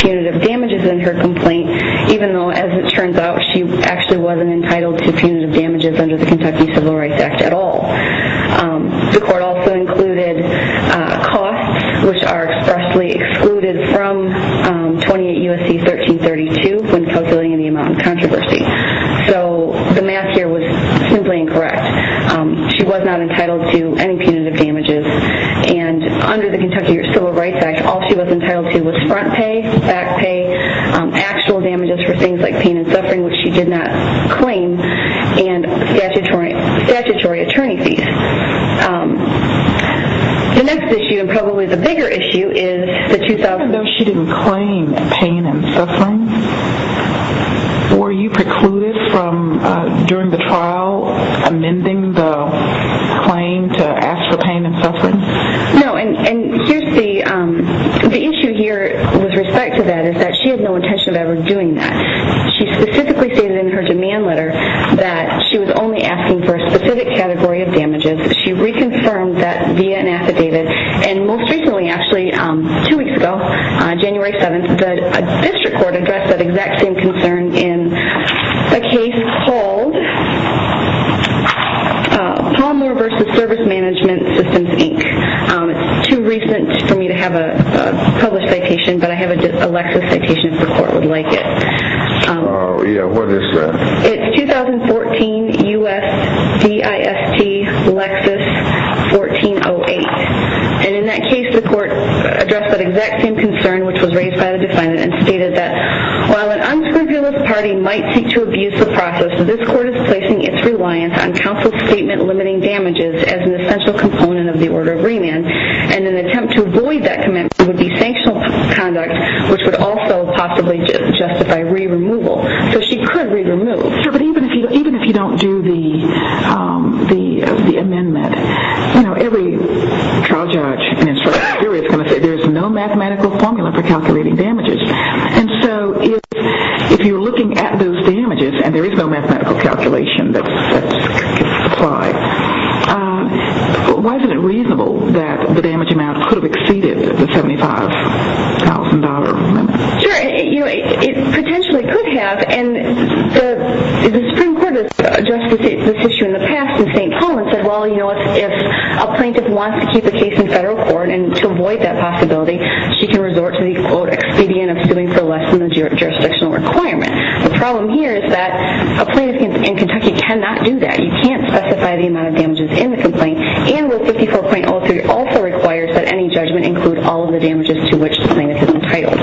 Punitive damages in her complaint, even though, as it turns out, she actually wasn't entitled to punitive damages under the Kentucky Civil Rights Act at all. The court also included costs which are expressly excluded from 28 U.S.C. 1332 when calculating the amount of controversy. So the math here was simply incorrect. She was not entitled to any punitive damages and under the Kentucky Civil Rights Act, all she was entitled to was front pay, back pay, actual damages for things like pain and suffering, which she did not claim, and The next issue, and probably the bigger issue, is the 2000... Even though she didn't claim pain and suffering, were you precluded from, during the trial, amending the claim to ask for pain and suffering? No, and here's the issue here with respect to that is that she had no intention of ever doing that. She specifically stated in her demand letter that she was only asking for And most recently, actually, two weeks ago, January 7th, the district court addressed that exact same concern in a case called Palmer v. Service Management Systems, Inc. It's too recent for me to have a published citation, but I have a Lexis citation if the court would like it. Oh, yeah, what is that? It's 2014 U.S. D.I.S.T. Lexis 1408. And in that case, the court addressed that exact same concern, which was raised by the defendant, and stated that while an unscrupulous party might seek to abuse the process, this court is placing its reliance on counsel's statement limiting damages as an essential component of the order of remand. And an attempt to avoid that commitment would be sanctional conduct, which would also possibly justify re-removal. So she could re-remove. Sure, but even if you don't do the amendment, you know, every trial judge and instructor here is going to say there is no mathematical formula for calculating damages. And so if you're looking at those damages, and there is no mathematical calculation that could apply, why isn't it reasonable that the damage amount could have exceeded the $75,000 limit? Sure, you know, it potentially could have. And the Supreme Court has addressed this issue in the past in St. Paul and said, well, you know what, if a plaintiff wants to keep a case in federal court and to avoid that possibility, she can resort to the, quote, expedient of suing for less than the jurisdictional requirement. The problem here is that a plaintiff in Kentucky cannot do that. You can't specify the amount of damages in the complaint. And Rule 54.03 also requires that any judgment include all the damages to which the plaintiff is entitled.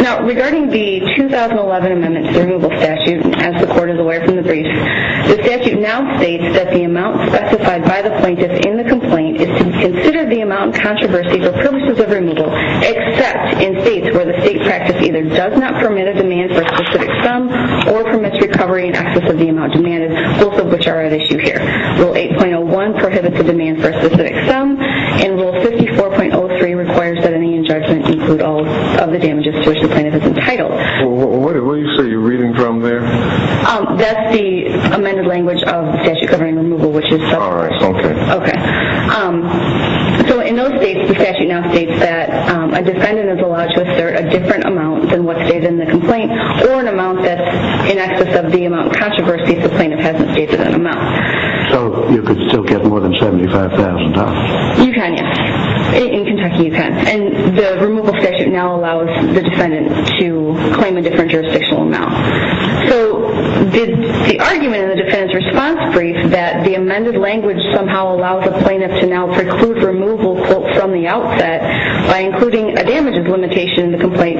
Now, regarding the 2011 Amendment to the Removal Statute, as the Court is aware from the brief, the statute now states that the amount specified by the plaintiff in the complaint is to consider the amount controversy for purposes of removal except in states where the state practice either does not permit a demand for a specific sum or permits recovery in excess of the amount demanded, both of which are at issue here. Rule 8.01 prohibits the demand for a specific sum, and Rule 54.03 requires that any judgment include all of the damages to which the plaintiff is entitled. Well, what did you say you're reading from there? That's the amended language of the statute governing removal, which is... All right, okay. Okay. So in those states, the statute now states that a defendant is allowed to assert a different amount than what's stated in the complaint or an amount that's in excess of the amount controversy if the plaintiff hasn't stated that amount. So you could still get more than $75,000? You can, yes. In Kentucky, you can. And the removal statute now allows the defendant to claim a different jurisdictional amount. So the argument in the defendant's response brief that the amended language somehow allows a plaintiff to now preclude removal from the outset by including a damages limitation in the complaint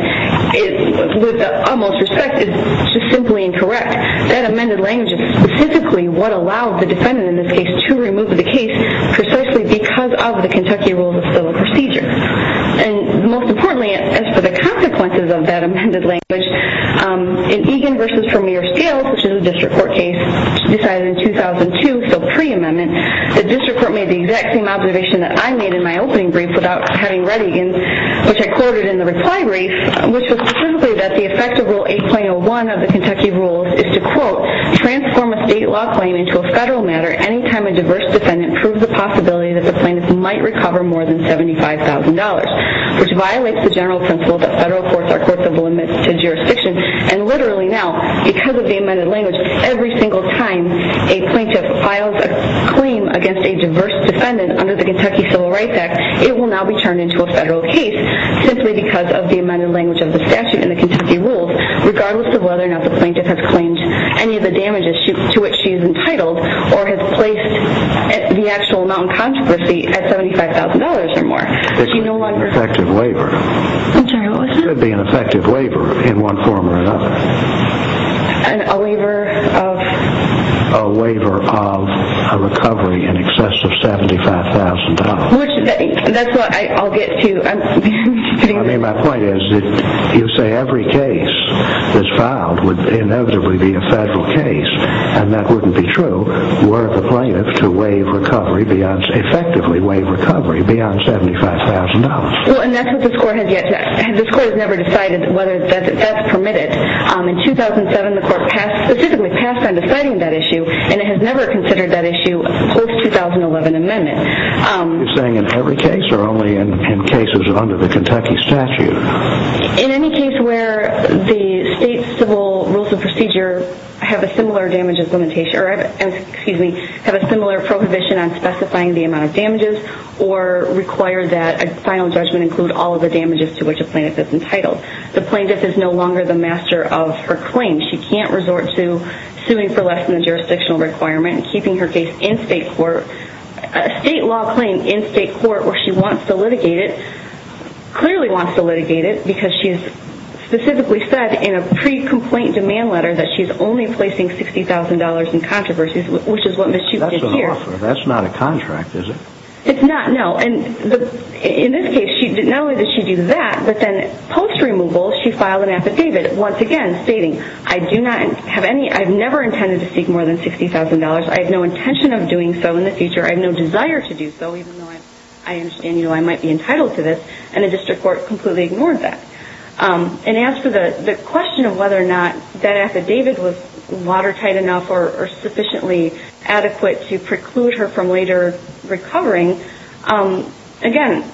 with the utmost respect is just simply incorrect. That amended language is specifically what allowed the defendant, in this case, to remove the case precisely because of the Kentucky Rules of Civil Procedure. And most importantly, as for the consequences of that amended language, in Egan v. Premier Scales, which is a district court case decided in 2002, so pre-amendment, the district court made the exact same observation that I made in my opening brief without having read Egan's, which I quoted in the reply brief, which was specifically that the effect of Rule 8.01 of the Kentucky Rules is to, quote, transform a state law claim into a federal matter any time a diverse defendant proves the possibility that the plaintiff might recover more than $75,000, which violates the general principle that federal courts are courts of limited jurisdiction. And literally now, because of the amended language, every single time a plaintiff files a claim against a diverse defendant under the Kentucky Civil Rights Act, it will now be turned into a federal case simply because of the amended language of the statute in the Kentucky Rules, regardless of whether or not the plaintiff has claimed any of the damages to which she is entitled or has placed the actual amount in controversy at $75,000 or more. It's an effective labor. I'm sorry, what was that? It could be an effective labor in one form or another. A labor of? A recovery in excess of $75,000. That's what I'll get to. I mean, my point is that you say every case that's filed would inevitably be a federal case, and that wouldn't be true were the plaintiff to waive recovery, effectively waive recovery, beyond $75,000. Well, and that's what this Court has never decided whether that's permitted. In 2007, the Court specifically passed on deciding that issue, and it has never considered that issue post-2011 amendment. You're saying in every case or only in cases under the Kentucky statute? In any case where the state's civil rules of procedure have a similar damages limitation, or excuse me, have a similar prohibition on specifying the amount of damages or require that a final judgment include all of the damages to which a plaintiff is entitled. The plaintiff is no longer the master of her claim. She can't resort to suing for less than the jurisdictional requirement, keeping her case in state court. A state law claim in state court where she wants to litigate it, clearly wants to litigate it because she's specifically said in a pre-complaint demand letter that she's only placing $60,000 in controversies, which is what Ms. Chute did here. That's not an offer. That's not a contract, is it? It's not, no. In this case, not only did she do that, but then post-removal she filed an affidavit, stating, I've never intended to seek more than $60,000. I have no intention of doing so in the future. I have no desire to do so, even though I understand I might be entitled to this. And the district court completely ignored that. And as for the question of whether or not that affidavit was watertight enough or sufficiently adequate to preclude her from later recovering, again,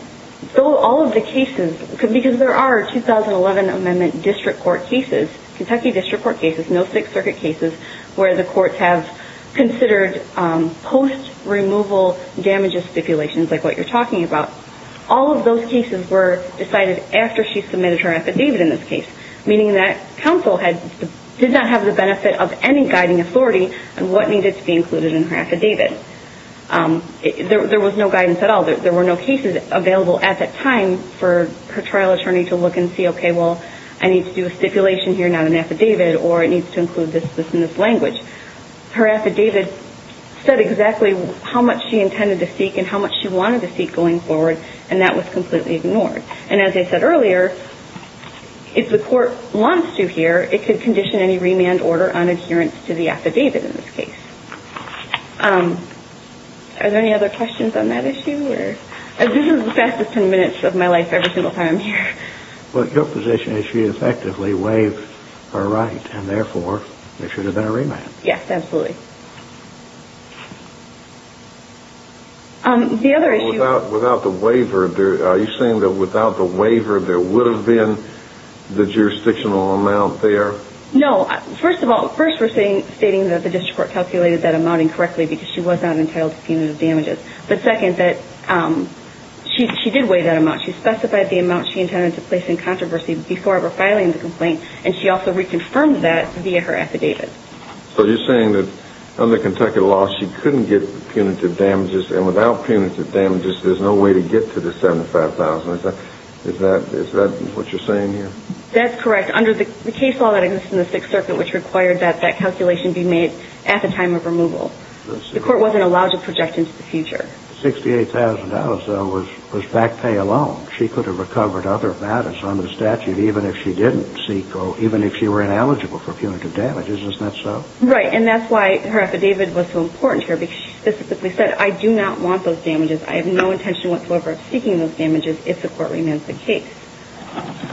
all of the cases, because there are 2011 amendment district court cases, Kentucky district court cases, no Sixth Circuit cases, where the courts have considered post-removal damages stipulations, like what you're talking about. All of those cases were decided after she submitted her affidavit in this case, meaning that counsel did not have the benefit of any guiding authority on what needed to be included in her affidavit. There was no guidance at all. There were no cases available at that time for her trial attorney to look and see, okay, well, I need to do a stipulation here, not an affidavit, or it needs to include this in this language. Her affidavit said exactly how much she intended to seek and how much she wanted to seek going forward, and that was completely ignored. And as I said earlier, if the court wants to here, it could condition any remand order on adherence to the affidavit in this case. Are there any other questions on that issue? This is the fastest ten minutes of my life every single time I'm here. But your position is she effectively waived her right, and therefore there should have been a remand. Yes, absolutely. Without the waiver, are you saying that without the waiver there would have been the jurisdictional amount there? No. First of all, first we're stating that the district court calculated that amount incorrectly because she was not entitled to punitive damages. But second, that she did waive that amount. She specified the amount she intended to place in controversy before ever filing the complaint, and she also reconfirmed that via her affidavit. So you're saying that under Kentucky law she couldn't get punitive damages, and without punitive damages there's no way to get to the $75,000. Is that what you're saying here? That's correct. And under the case law that exists in the Sixth Circuit, which required that that calculation be made at the time of removal, the court wasn't allowed to project into the future. The $68,000, though, was back pay alone. She could have recovered other matters under the statute even if she didn't seek, or even if she were ineligible for punitive damages. Isn't that so? Right. And that's why her affidavit was so important here, because she specifically said, I do not want those damages. I have no intention whatsoever of seeking those damages if the court remands the case.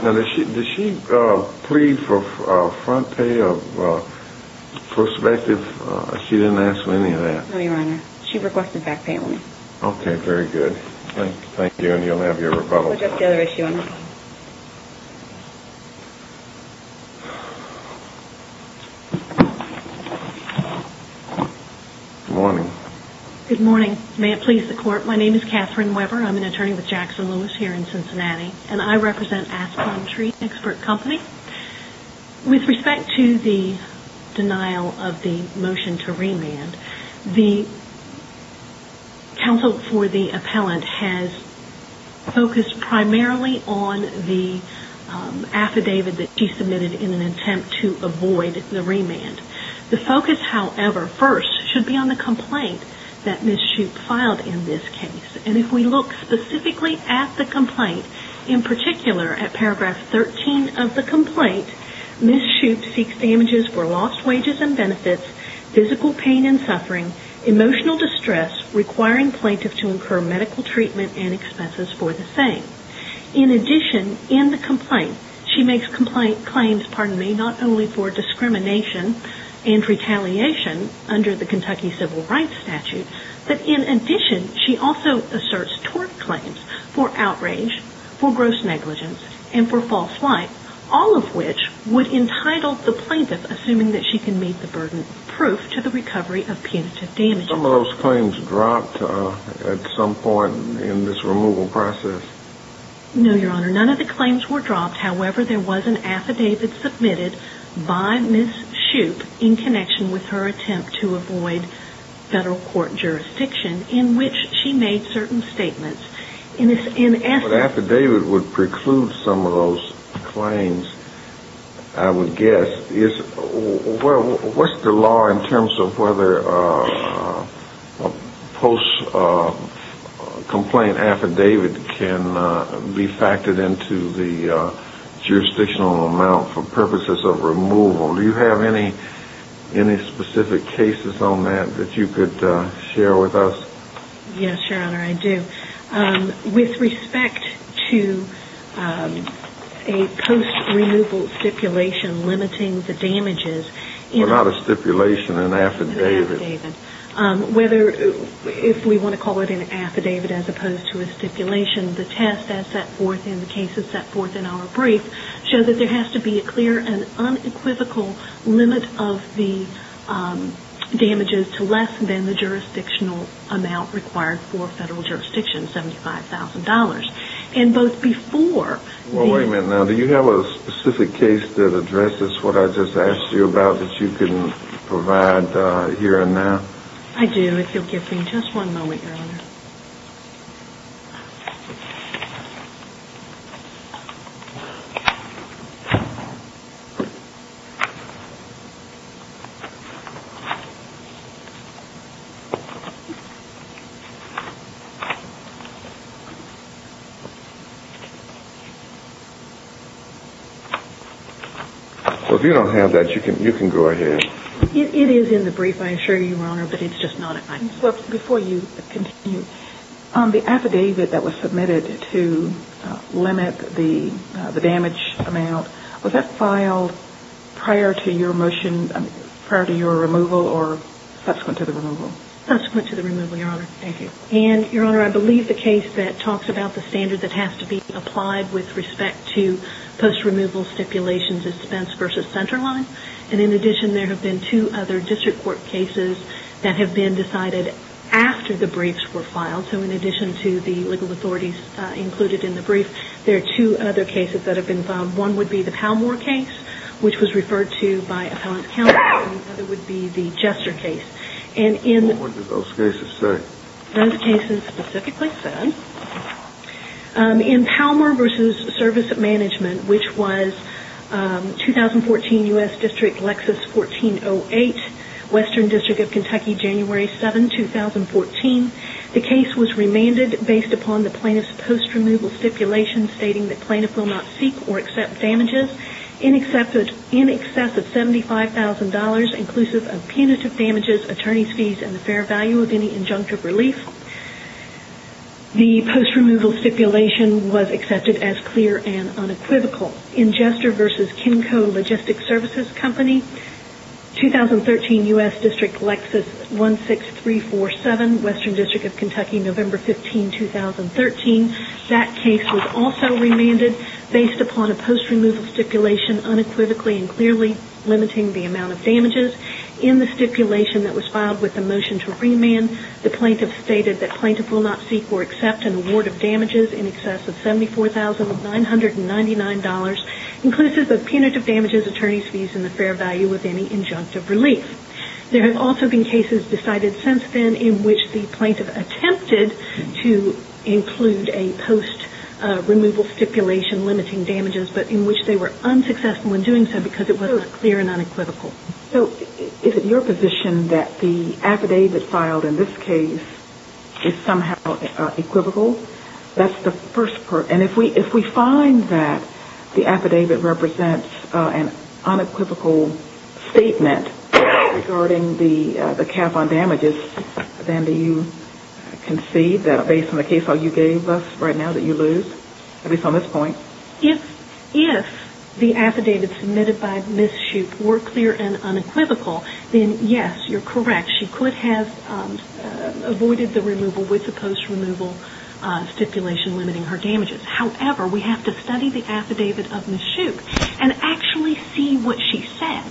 Now, did she plead for front pay or prospective? She didn't ask for any of that. No, Your Honor. She requested back pay only. Okay, very good. Thank you, and you'll have your rebuttal. What's the other issue, Your Honor? Good morning. Good morning. May it please the court, my name is Catherine Weber. I'm an attorney with Jackson Lewis here in Cincinnati, and I represent Aspen Tree Expert Company. With respect to the denial of the motion to remand, the counsel for the appellant has focused primarily on the affidavit that she submitted in an attempt to avoid the remand. The focus, however, first, should be on the complaint that Ms. Shoup filed in this case. And if we look specifically at the complaint, in particular at paragraph 13 of the complaint, Ms. Shoup seeks damages for lost wages and benefits, physical pain and suffering, emotional distress, requiring plaintiff to incur medical treatment and expenses for the same. In addition, in the complaint, she makes complaint claims, pardon me, not only for discrimination and retaliation under the Kentucky civil rights statute, but in addition, she also asserts tort claims for outrage, for gross negligence, and for false light, all of which would entitle the plaintiff, assuming that she can meet the burden, proof to the recovery of punitive damages. Some of those claims dropped at some point in this removal process. No, Your Honor, none of the claims were dropped. However, there was an affidavit submitted by Ms. Shoup in connection with her attempt to avoid federal court jurisdiction in which she made certain statements. An affidavit would preclude some of those claims, I would guess. What's the law in terms of whether a post-complaint affidavit can be factored into the jurisdictional amount for purposes of removal? Do you have any specific cases on that that you could share with us? Yes, Your Honor, I do. With respect to a post-removal stipulation limiting the damages... Well, not a stipulation, an affidavit. An affidavit. If we want to call it an affidavit as opposed to a stipulation, the test that's set forth in the cases set forth in our brief show that there has to be a clear and unequivocal limit of the damages to less than the jurisdictional amount required for federal jurisdiction, $75,000. And both before... Wait a minute now. Do you have a specific case that addresses what I just asked you about that you can provide here and now? I do, if you'll give me just one moment, Your Honor. Well, if you don't have that, you can go ahead. It is in the brief, I assure you, Your Honor, but it's just not... Before you continue, the affidavit that was submitted to limit the damage amount, was that filed prior to your removal or subsequent to the removal? Subsequent to the removal, Your Honor. Thank you. And, Your Honor, I believe the case that talks about the standard that has to be applied with respect to post-removal stipulation dispense versus centerline. And in addition, there have been two other district court cases that have been decided after the briefs were filed. So in addition to the legal authorities included in the brief, there are two other cases that have been filed. One would be the Palmore case, which was referred to by Appellant Counsel, and the other would be the Jester case. And in... And what did those cases say? Those cases specifically said, in Palmore v. Service Management, which was 2014 U.S. District Lexus 1408, Western District of Kentucky, January 7, 2014, the case was remanded based upon the plaintiff's post-removal stipulation stating that plaintiff will not seek or accept damages in excess of $75,000 inclusive of punitive damages, attorney's fees, and the fair value of any injunctive relief. The post-removal stipulation was accepted as clear and unequivocal. In Jester v. Kenco Logistics Services Company, 2013 U.S. District Lexus 16347, Western District of Kentucky, November 15, 2013, that case was also remanded based upon a post-removal stipulation unequivocally and clearly limiting the amount of damages. In the stipulation that was filed with the motion to remand, the plaintiff stated that plaintiff will not seek or accept an award of damages in excess of $74,999 inclusive of punitive damages, attorney's fees, and the fair value of any injunctive relief. There have also been cases decided since then in which the plaintiff attempted to include a post-removal stipulation limiting damages, but in which they were unsuccessful in doing so because it was clear and unequivocal. So is it your position that the affidavit filed in this case is somehow equivocal? That's the first part. And if we find that the affidavit represents an unequivocal statement regarding the cap on damages, then do you concede that based on the case file you gave us right now that you lose? At least on this point. If the affidavits submitted by Ms. Shoup were clear and unequivocal, then yes, you're correct. She could have avoided the removal with the post-removal stipulation limiting her damages. However, we have to study the affidavit of Ms. Shoup and actually see what she said.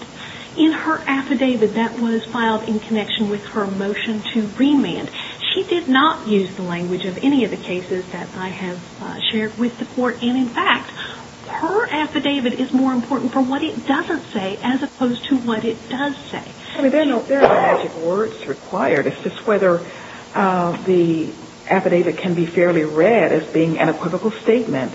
In her affidavit that was filed in connection with her motion to remand, she did not use the language of any of the cases that I have shared with the court. And in fact, her affidavit is more important for what it doesn't say as opposed to what it does say. There are no magic words required. It's just whether the affidavit can be fairly read as being an unequivocal statement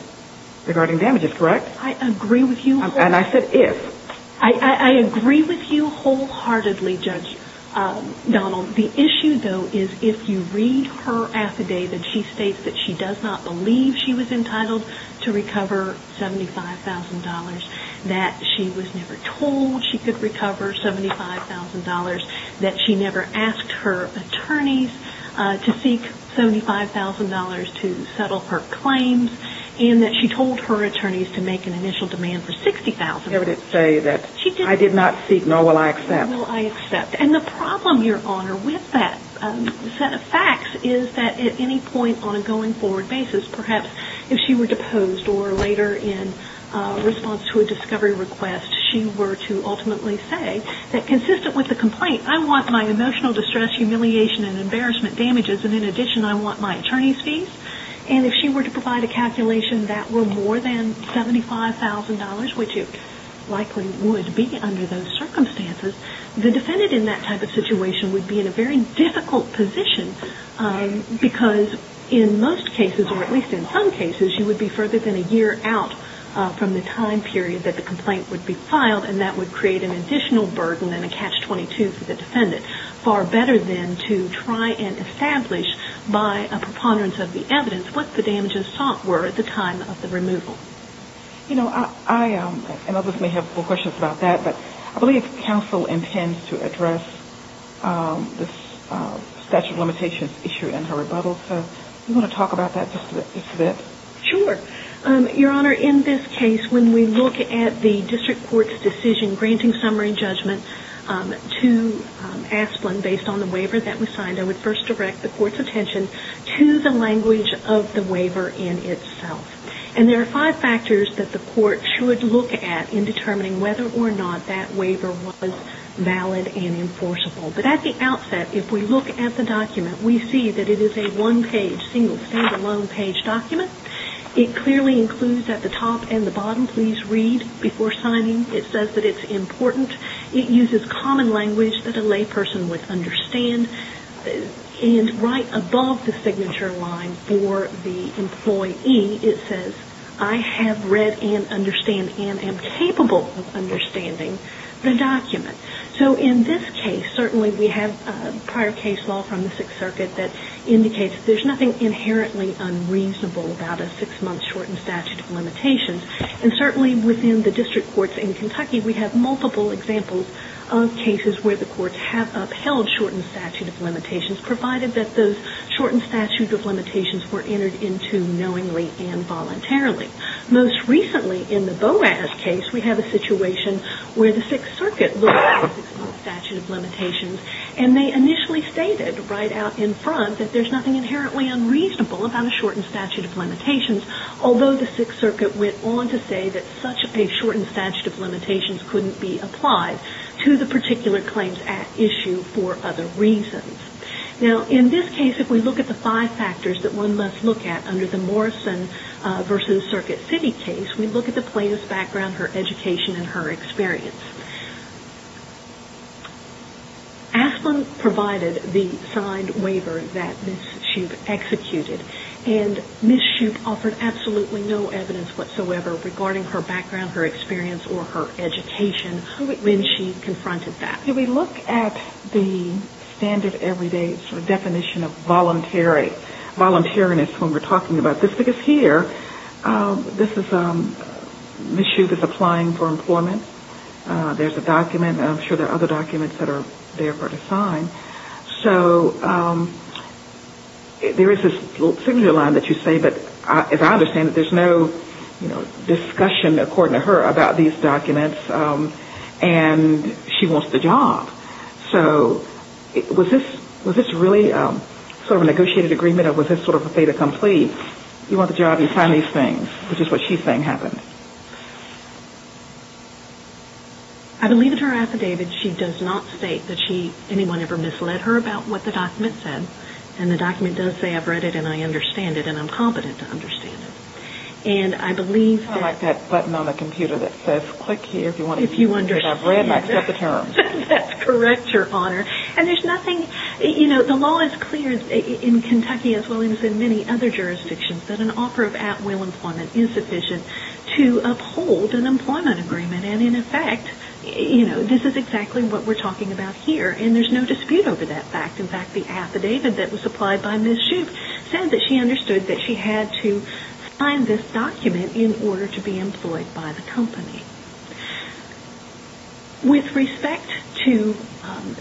regarding damages. Correct? I agree with you. And I said if. I agree with you wholeheartedly, Judge Donald. The issue, though, is if you read her affidavit, she states that she does not believe she was entitled to recover $75,000, that she was never told she could recover $75,000, that she never asked her attorneys to seek $75,000 to settle her claims, and that she told her attorneys to make an initial demand for $60,000. I would say that I did not seek, nor will I accept. Nor will I accept. And the problem, Your Honor, with that set of facts is that at any point on a going forward basis, perhaps if she were deposed or later in response to a discovery request, she were to ultimately say that consistent with the complaint, I want my emotional distress, humiliation, and embarrassment damages, and in addition I want my attorney's fees. And if she were to provide a calculation that were more than $75,000, which it likely would be under those circumstances, the defendant in that type of situation would be in a very difficult position because in most cases, or at least in some cases, you would be further than a year out from the time period that the complaint would be filed and that would create an additional burden and a catch-22 for the defendant, far better than to try and establish by a preponderance of the evidence what the damages sought were at the time of the removal. You know, I and others may have questions about that, but I believe counsel intends to address this statute of limitations issue in her rebuttal, so do you want to talk about that just a bit? Sure. Your Honor, in this case, when we look at the district court's decision granting summary judgment to Asplen based on the waiver that was signed, I would first direct the court's attention to the language of the waiver in itself. And there are five factors that the court should look at in determining whether or not that waiver was valid and enforceable. But at the outset, if we look at the document, we see that it is a one-page, single, stand-alone page document. It clearly includes at the top and the bottom, please read before signing. It says that it's important. It uses common language that a layperson would understand. And right above the signature line for the employee, it says, I have read and understand and am capable of understanding the document. There's nothing inherently unreasonable about a six-month shortened statute of limitations. And certainly within the district courts in Kentucky, we have multiple examples of cases where the courts have upheld shortened statute of limitations provided that those shortened statute of limitations were entered into knowingly and voluntarily. Most recently, in the Boaz case, we have a situation where the Sixth Circuit looked at the six-month statute of limitations and they initially stated right out in front that there's nothing inherently unreasonable about a shortened statute of limitations, although the Sixth Circuit went on to say that such a shortened statute of limitations couldn't be applied to the particular claims at issue for other reasons. Now, in this case, if we look at the five factors that one must look at under the Morrison v. Circuit City case, we look at the plaintiff's background, her education, and her experience. Asplund provided the signed waiver that Ms. Shoup executed, and Ms. Shoup offered absolutely no evidence whatsoever regarding her background, her experience, or her education when she confronted that. If we look at the standard everyday definition of voluntariness when we're talking about this, because here, Ms. Shoup is applying for employment. There's a document. There are documents that are there for her to sign. So there is this little signature line that you say, but as I understand it, there's no discussion according to her about these documents, and she wants the job. So was this really sort of a negotiated agreement or was this sort of a fait accompli? You want the job, you sign these things, which is what she's saying happened. I believe in her affidavit, she does not state that anyone ever misled her about what the document said, and the document does say, I've read it and I understand it, and I'm competent to understand it. And I believe that... I like that button on the computer that says, click here if you want to... If you want to... If I've read it, I accept the terms. That's correct, Your Honor. And there's nothing, you know, as well as in many other jurisdictions that an offer of at-will employment is sufficient to provide a job to uphold an employment agreement. And in effect, you know, this is exactly what we're talking about here and there's no dispute over that fact. In fact, the affidavit that was supplied by Ms. Shoup said that she understood that she had to sign this document in order to be employed by the company. With respect to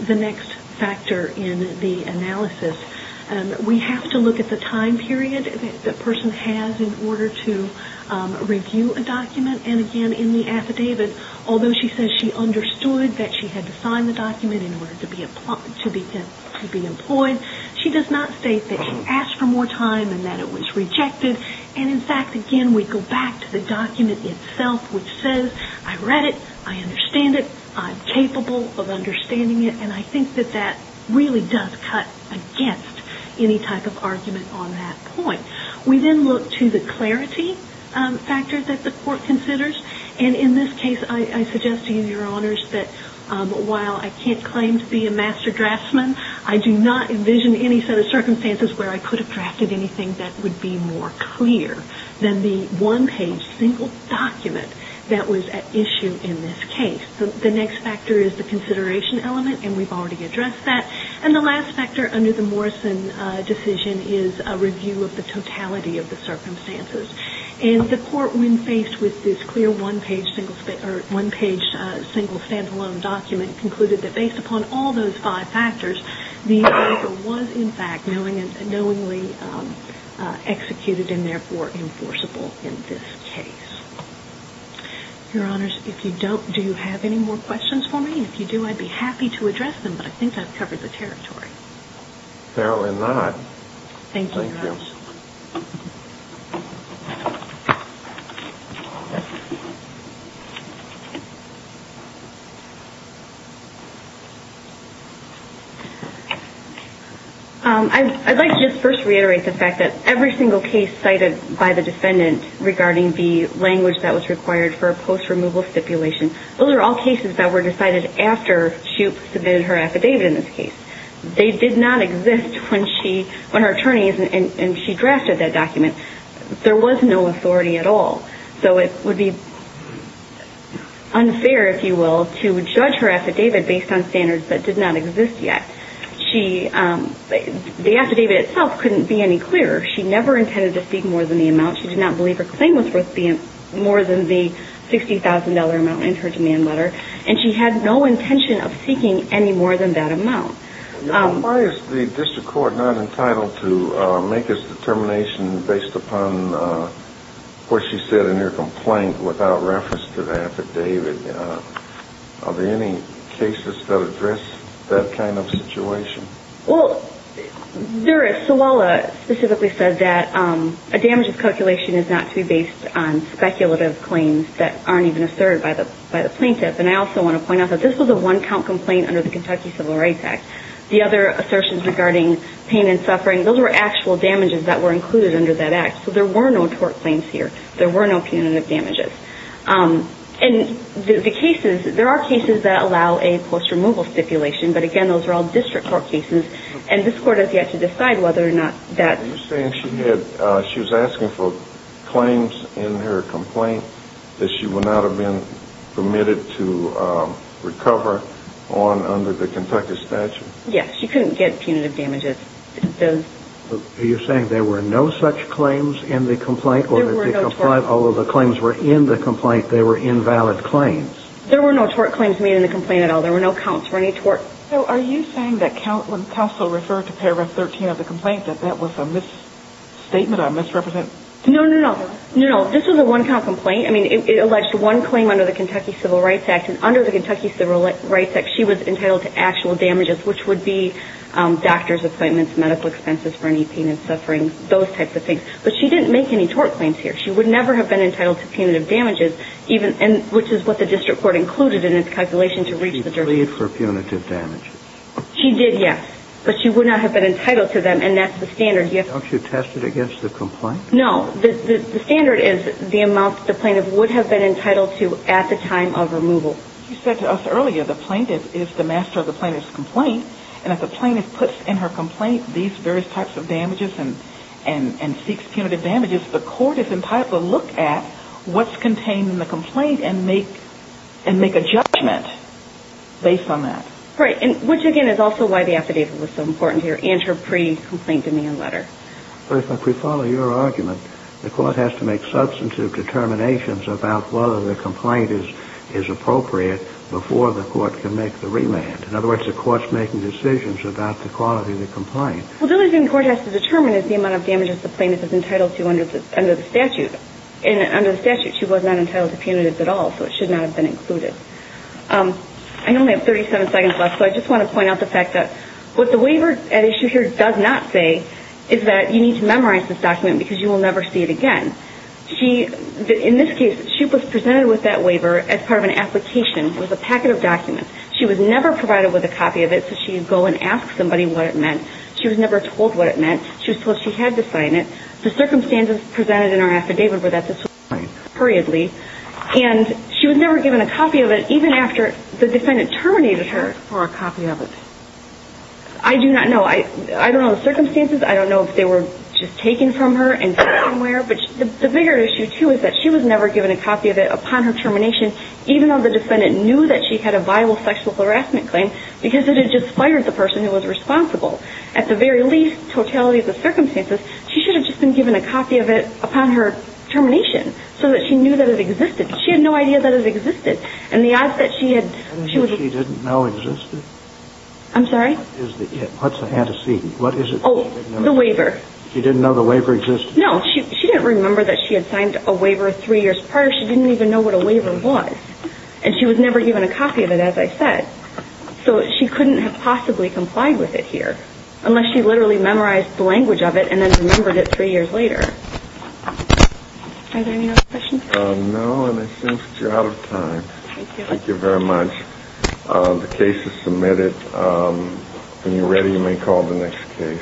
the next factor in the analysis, we have to look at the time period that the person has in order to review a document. And again, in the affidavit, although she says she understood that she had to sign the document in order to be employed, she does not state that she asked for more time and that it was rejected. And in fact, again, we go back to the document itself which says, I read it, I understand it, I'm capable of understanding it, and I think that that really does cut against any type of argument on that point. We then look to the clarity factor that the court considers. And in this case, I suggest to you, Your Honors, that while I can't claim to be a master draftsman, I do not envision any set of circumstances where I could have drafted anything that would be more clear than the one-page, single document that was at issue in this case. The next factor is the consideration element and we've already addressed that. And the last factor under the Morrison decision is a review of the totality of the circumstances. And the court, when faced with this clear one-page, single stand-alone document, concluded that based upon all those five factors, the offer was, in fact, knowingly executed and therefore enforceable in this case. Your Honors, if you don't, do you have any more questions for me? If you do, I'd be happy to address them but I think I've covered the territory. Fairly not. Thank you, Your Honors. I'd like to just first reiterate the fact that every single case cited by the defendant regarding the language that was required for a post-removal stipulation, those are all cases that were decided after she submitted her affidavit in this case. They did not exist when her attorney and she drafted that document. There was no authority at all. So it would be unfair, if you will, to judge her affidavit based on standards that did not exist yet. The affidavit itself couldn't be any clearer. She never intended to seek more than the amount. She did not believe her claim was worth more than the $60,000 amount in her demand letter and she had no intention of seeking any more than that amount. Why is the district court not entitled to make its determination based upon what she said in her complaint without reference to the affidavit? Are there any cases that address that kind of situation? Well, Zeris Sawala specifically said that a damages calculation is not to be based on speculative claims that aren't even asserted by the plaintiff. And I also want to point out that this was a one-count complaint under the Kentucky Civil Rights Act. The other assertions regarding pain and suffering, those were actual damages that were included under that act. So there were no tort claims here. There were no punitive damages. And there are cases that allow a post-removal stipulation, but again, those are all district court cases and this court has yet to decide whether or not that... Are you saying she was asking for claims in her complaint that she would not have been permitted to recover under the Kentucky statute? Yes, she couldn't get punitive damages. Are you saying there were no such claims in the complaint? There were no tort... Although the claims were in the complaint, they were invalid claims. There were no tort claims made in the complaint at all. There were no counts for any tort. So are you saying that when Counsel referred to paragraph 13 of the complaint that that was a misstatement, a misrepresentation? No, no, no. This was a one-count complaint. I mean, it alleged one claim under the Kentucky Civil Rights Act and under the Kentucky Civil Rights Act she was entitled to actual damages, which would be doctors' appointments, medical expenses for any pain and suffering, those types of things. But she didn't make any tort claims here. She would never have been entitled to punitive damages, which is what the district court included in its calculation to reach the jury. She pleaded for punitive damages. She did, yes. But she would not have been entitled to them and that's the standard. Don't you test it against the complaint? No. The standard is the amount the plaintiff would have been entitled to at the time of removal. You said to us earlier the plaintiff is the master of the plaintiff's complaint and if the plaintiff puts in her complaint these various types of damages and seeks punitive damages the court is entitled to look at what's contained in the complaint and make a judgment based on that. Right, which again is also why the affidavit was so important here and her pre-complaint demand letter. But if I pre-follow your argument the court has to make substantive determinations about whether the complaint is appropriate before the court can make the remand. In other words the court's making decisions about the quality of the complaint. Well the only thing the court has to determine is the amount of damages the plaintiff is entitled to under the statute. And under the statute she was not entitled to punitive at all so it should not have been included. I only have 37 seconds left so I just want to point out the fact that what the waiver at issue here does not say is that you need to memorize this document because you will never see it again. She, in this case she was presented with that waiver as part of an application with a packet of documents. She was never provided with a copy of it so she would go and ask somebody what it meant. She was never told what it meant. She was told she had to sign it. The circumstances presented in her affidavit were that this was her complaint. And she was never given a copy of it even after the defendant terminated her for a copy of it. I do not know. I don't know the circumstances. I don't know if they were just taken from her and sent somewhere but the bigger issue too is that she was never given a copy of it upon her termination even though the defendant knew that she had a viable sexual harassment claim because it had just fired the person who was responsible. At the very least totality of the circumstances she should have just been given a copy of it upon her termination so that she knew that it existed. She had no idea that it existed and the odds that she had She didn't know it existed? I'm sorry? What's the antecedent? What is it? Oh, the waiver. She didn't know the waiver existed? No. She didn't remember that she had signed a waiver three years prior. She didn't even know what a waiver was and she was never given a copy of it as I said. So she couldn't have possibly complied with it here unless she literally memorized the language of it and then remembered it three years later. Are there any other questions? No and I think you're out of time. Thank you. Thank you very much. The case is submitted. When you're ready you may call the next case.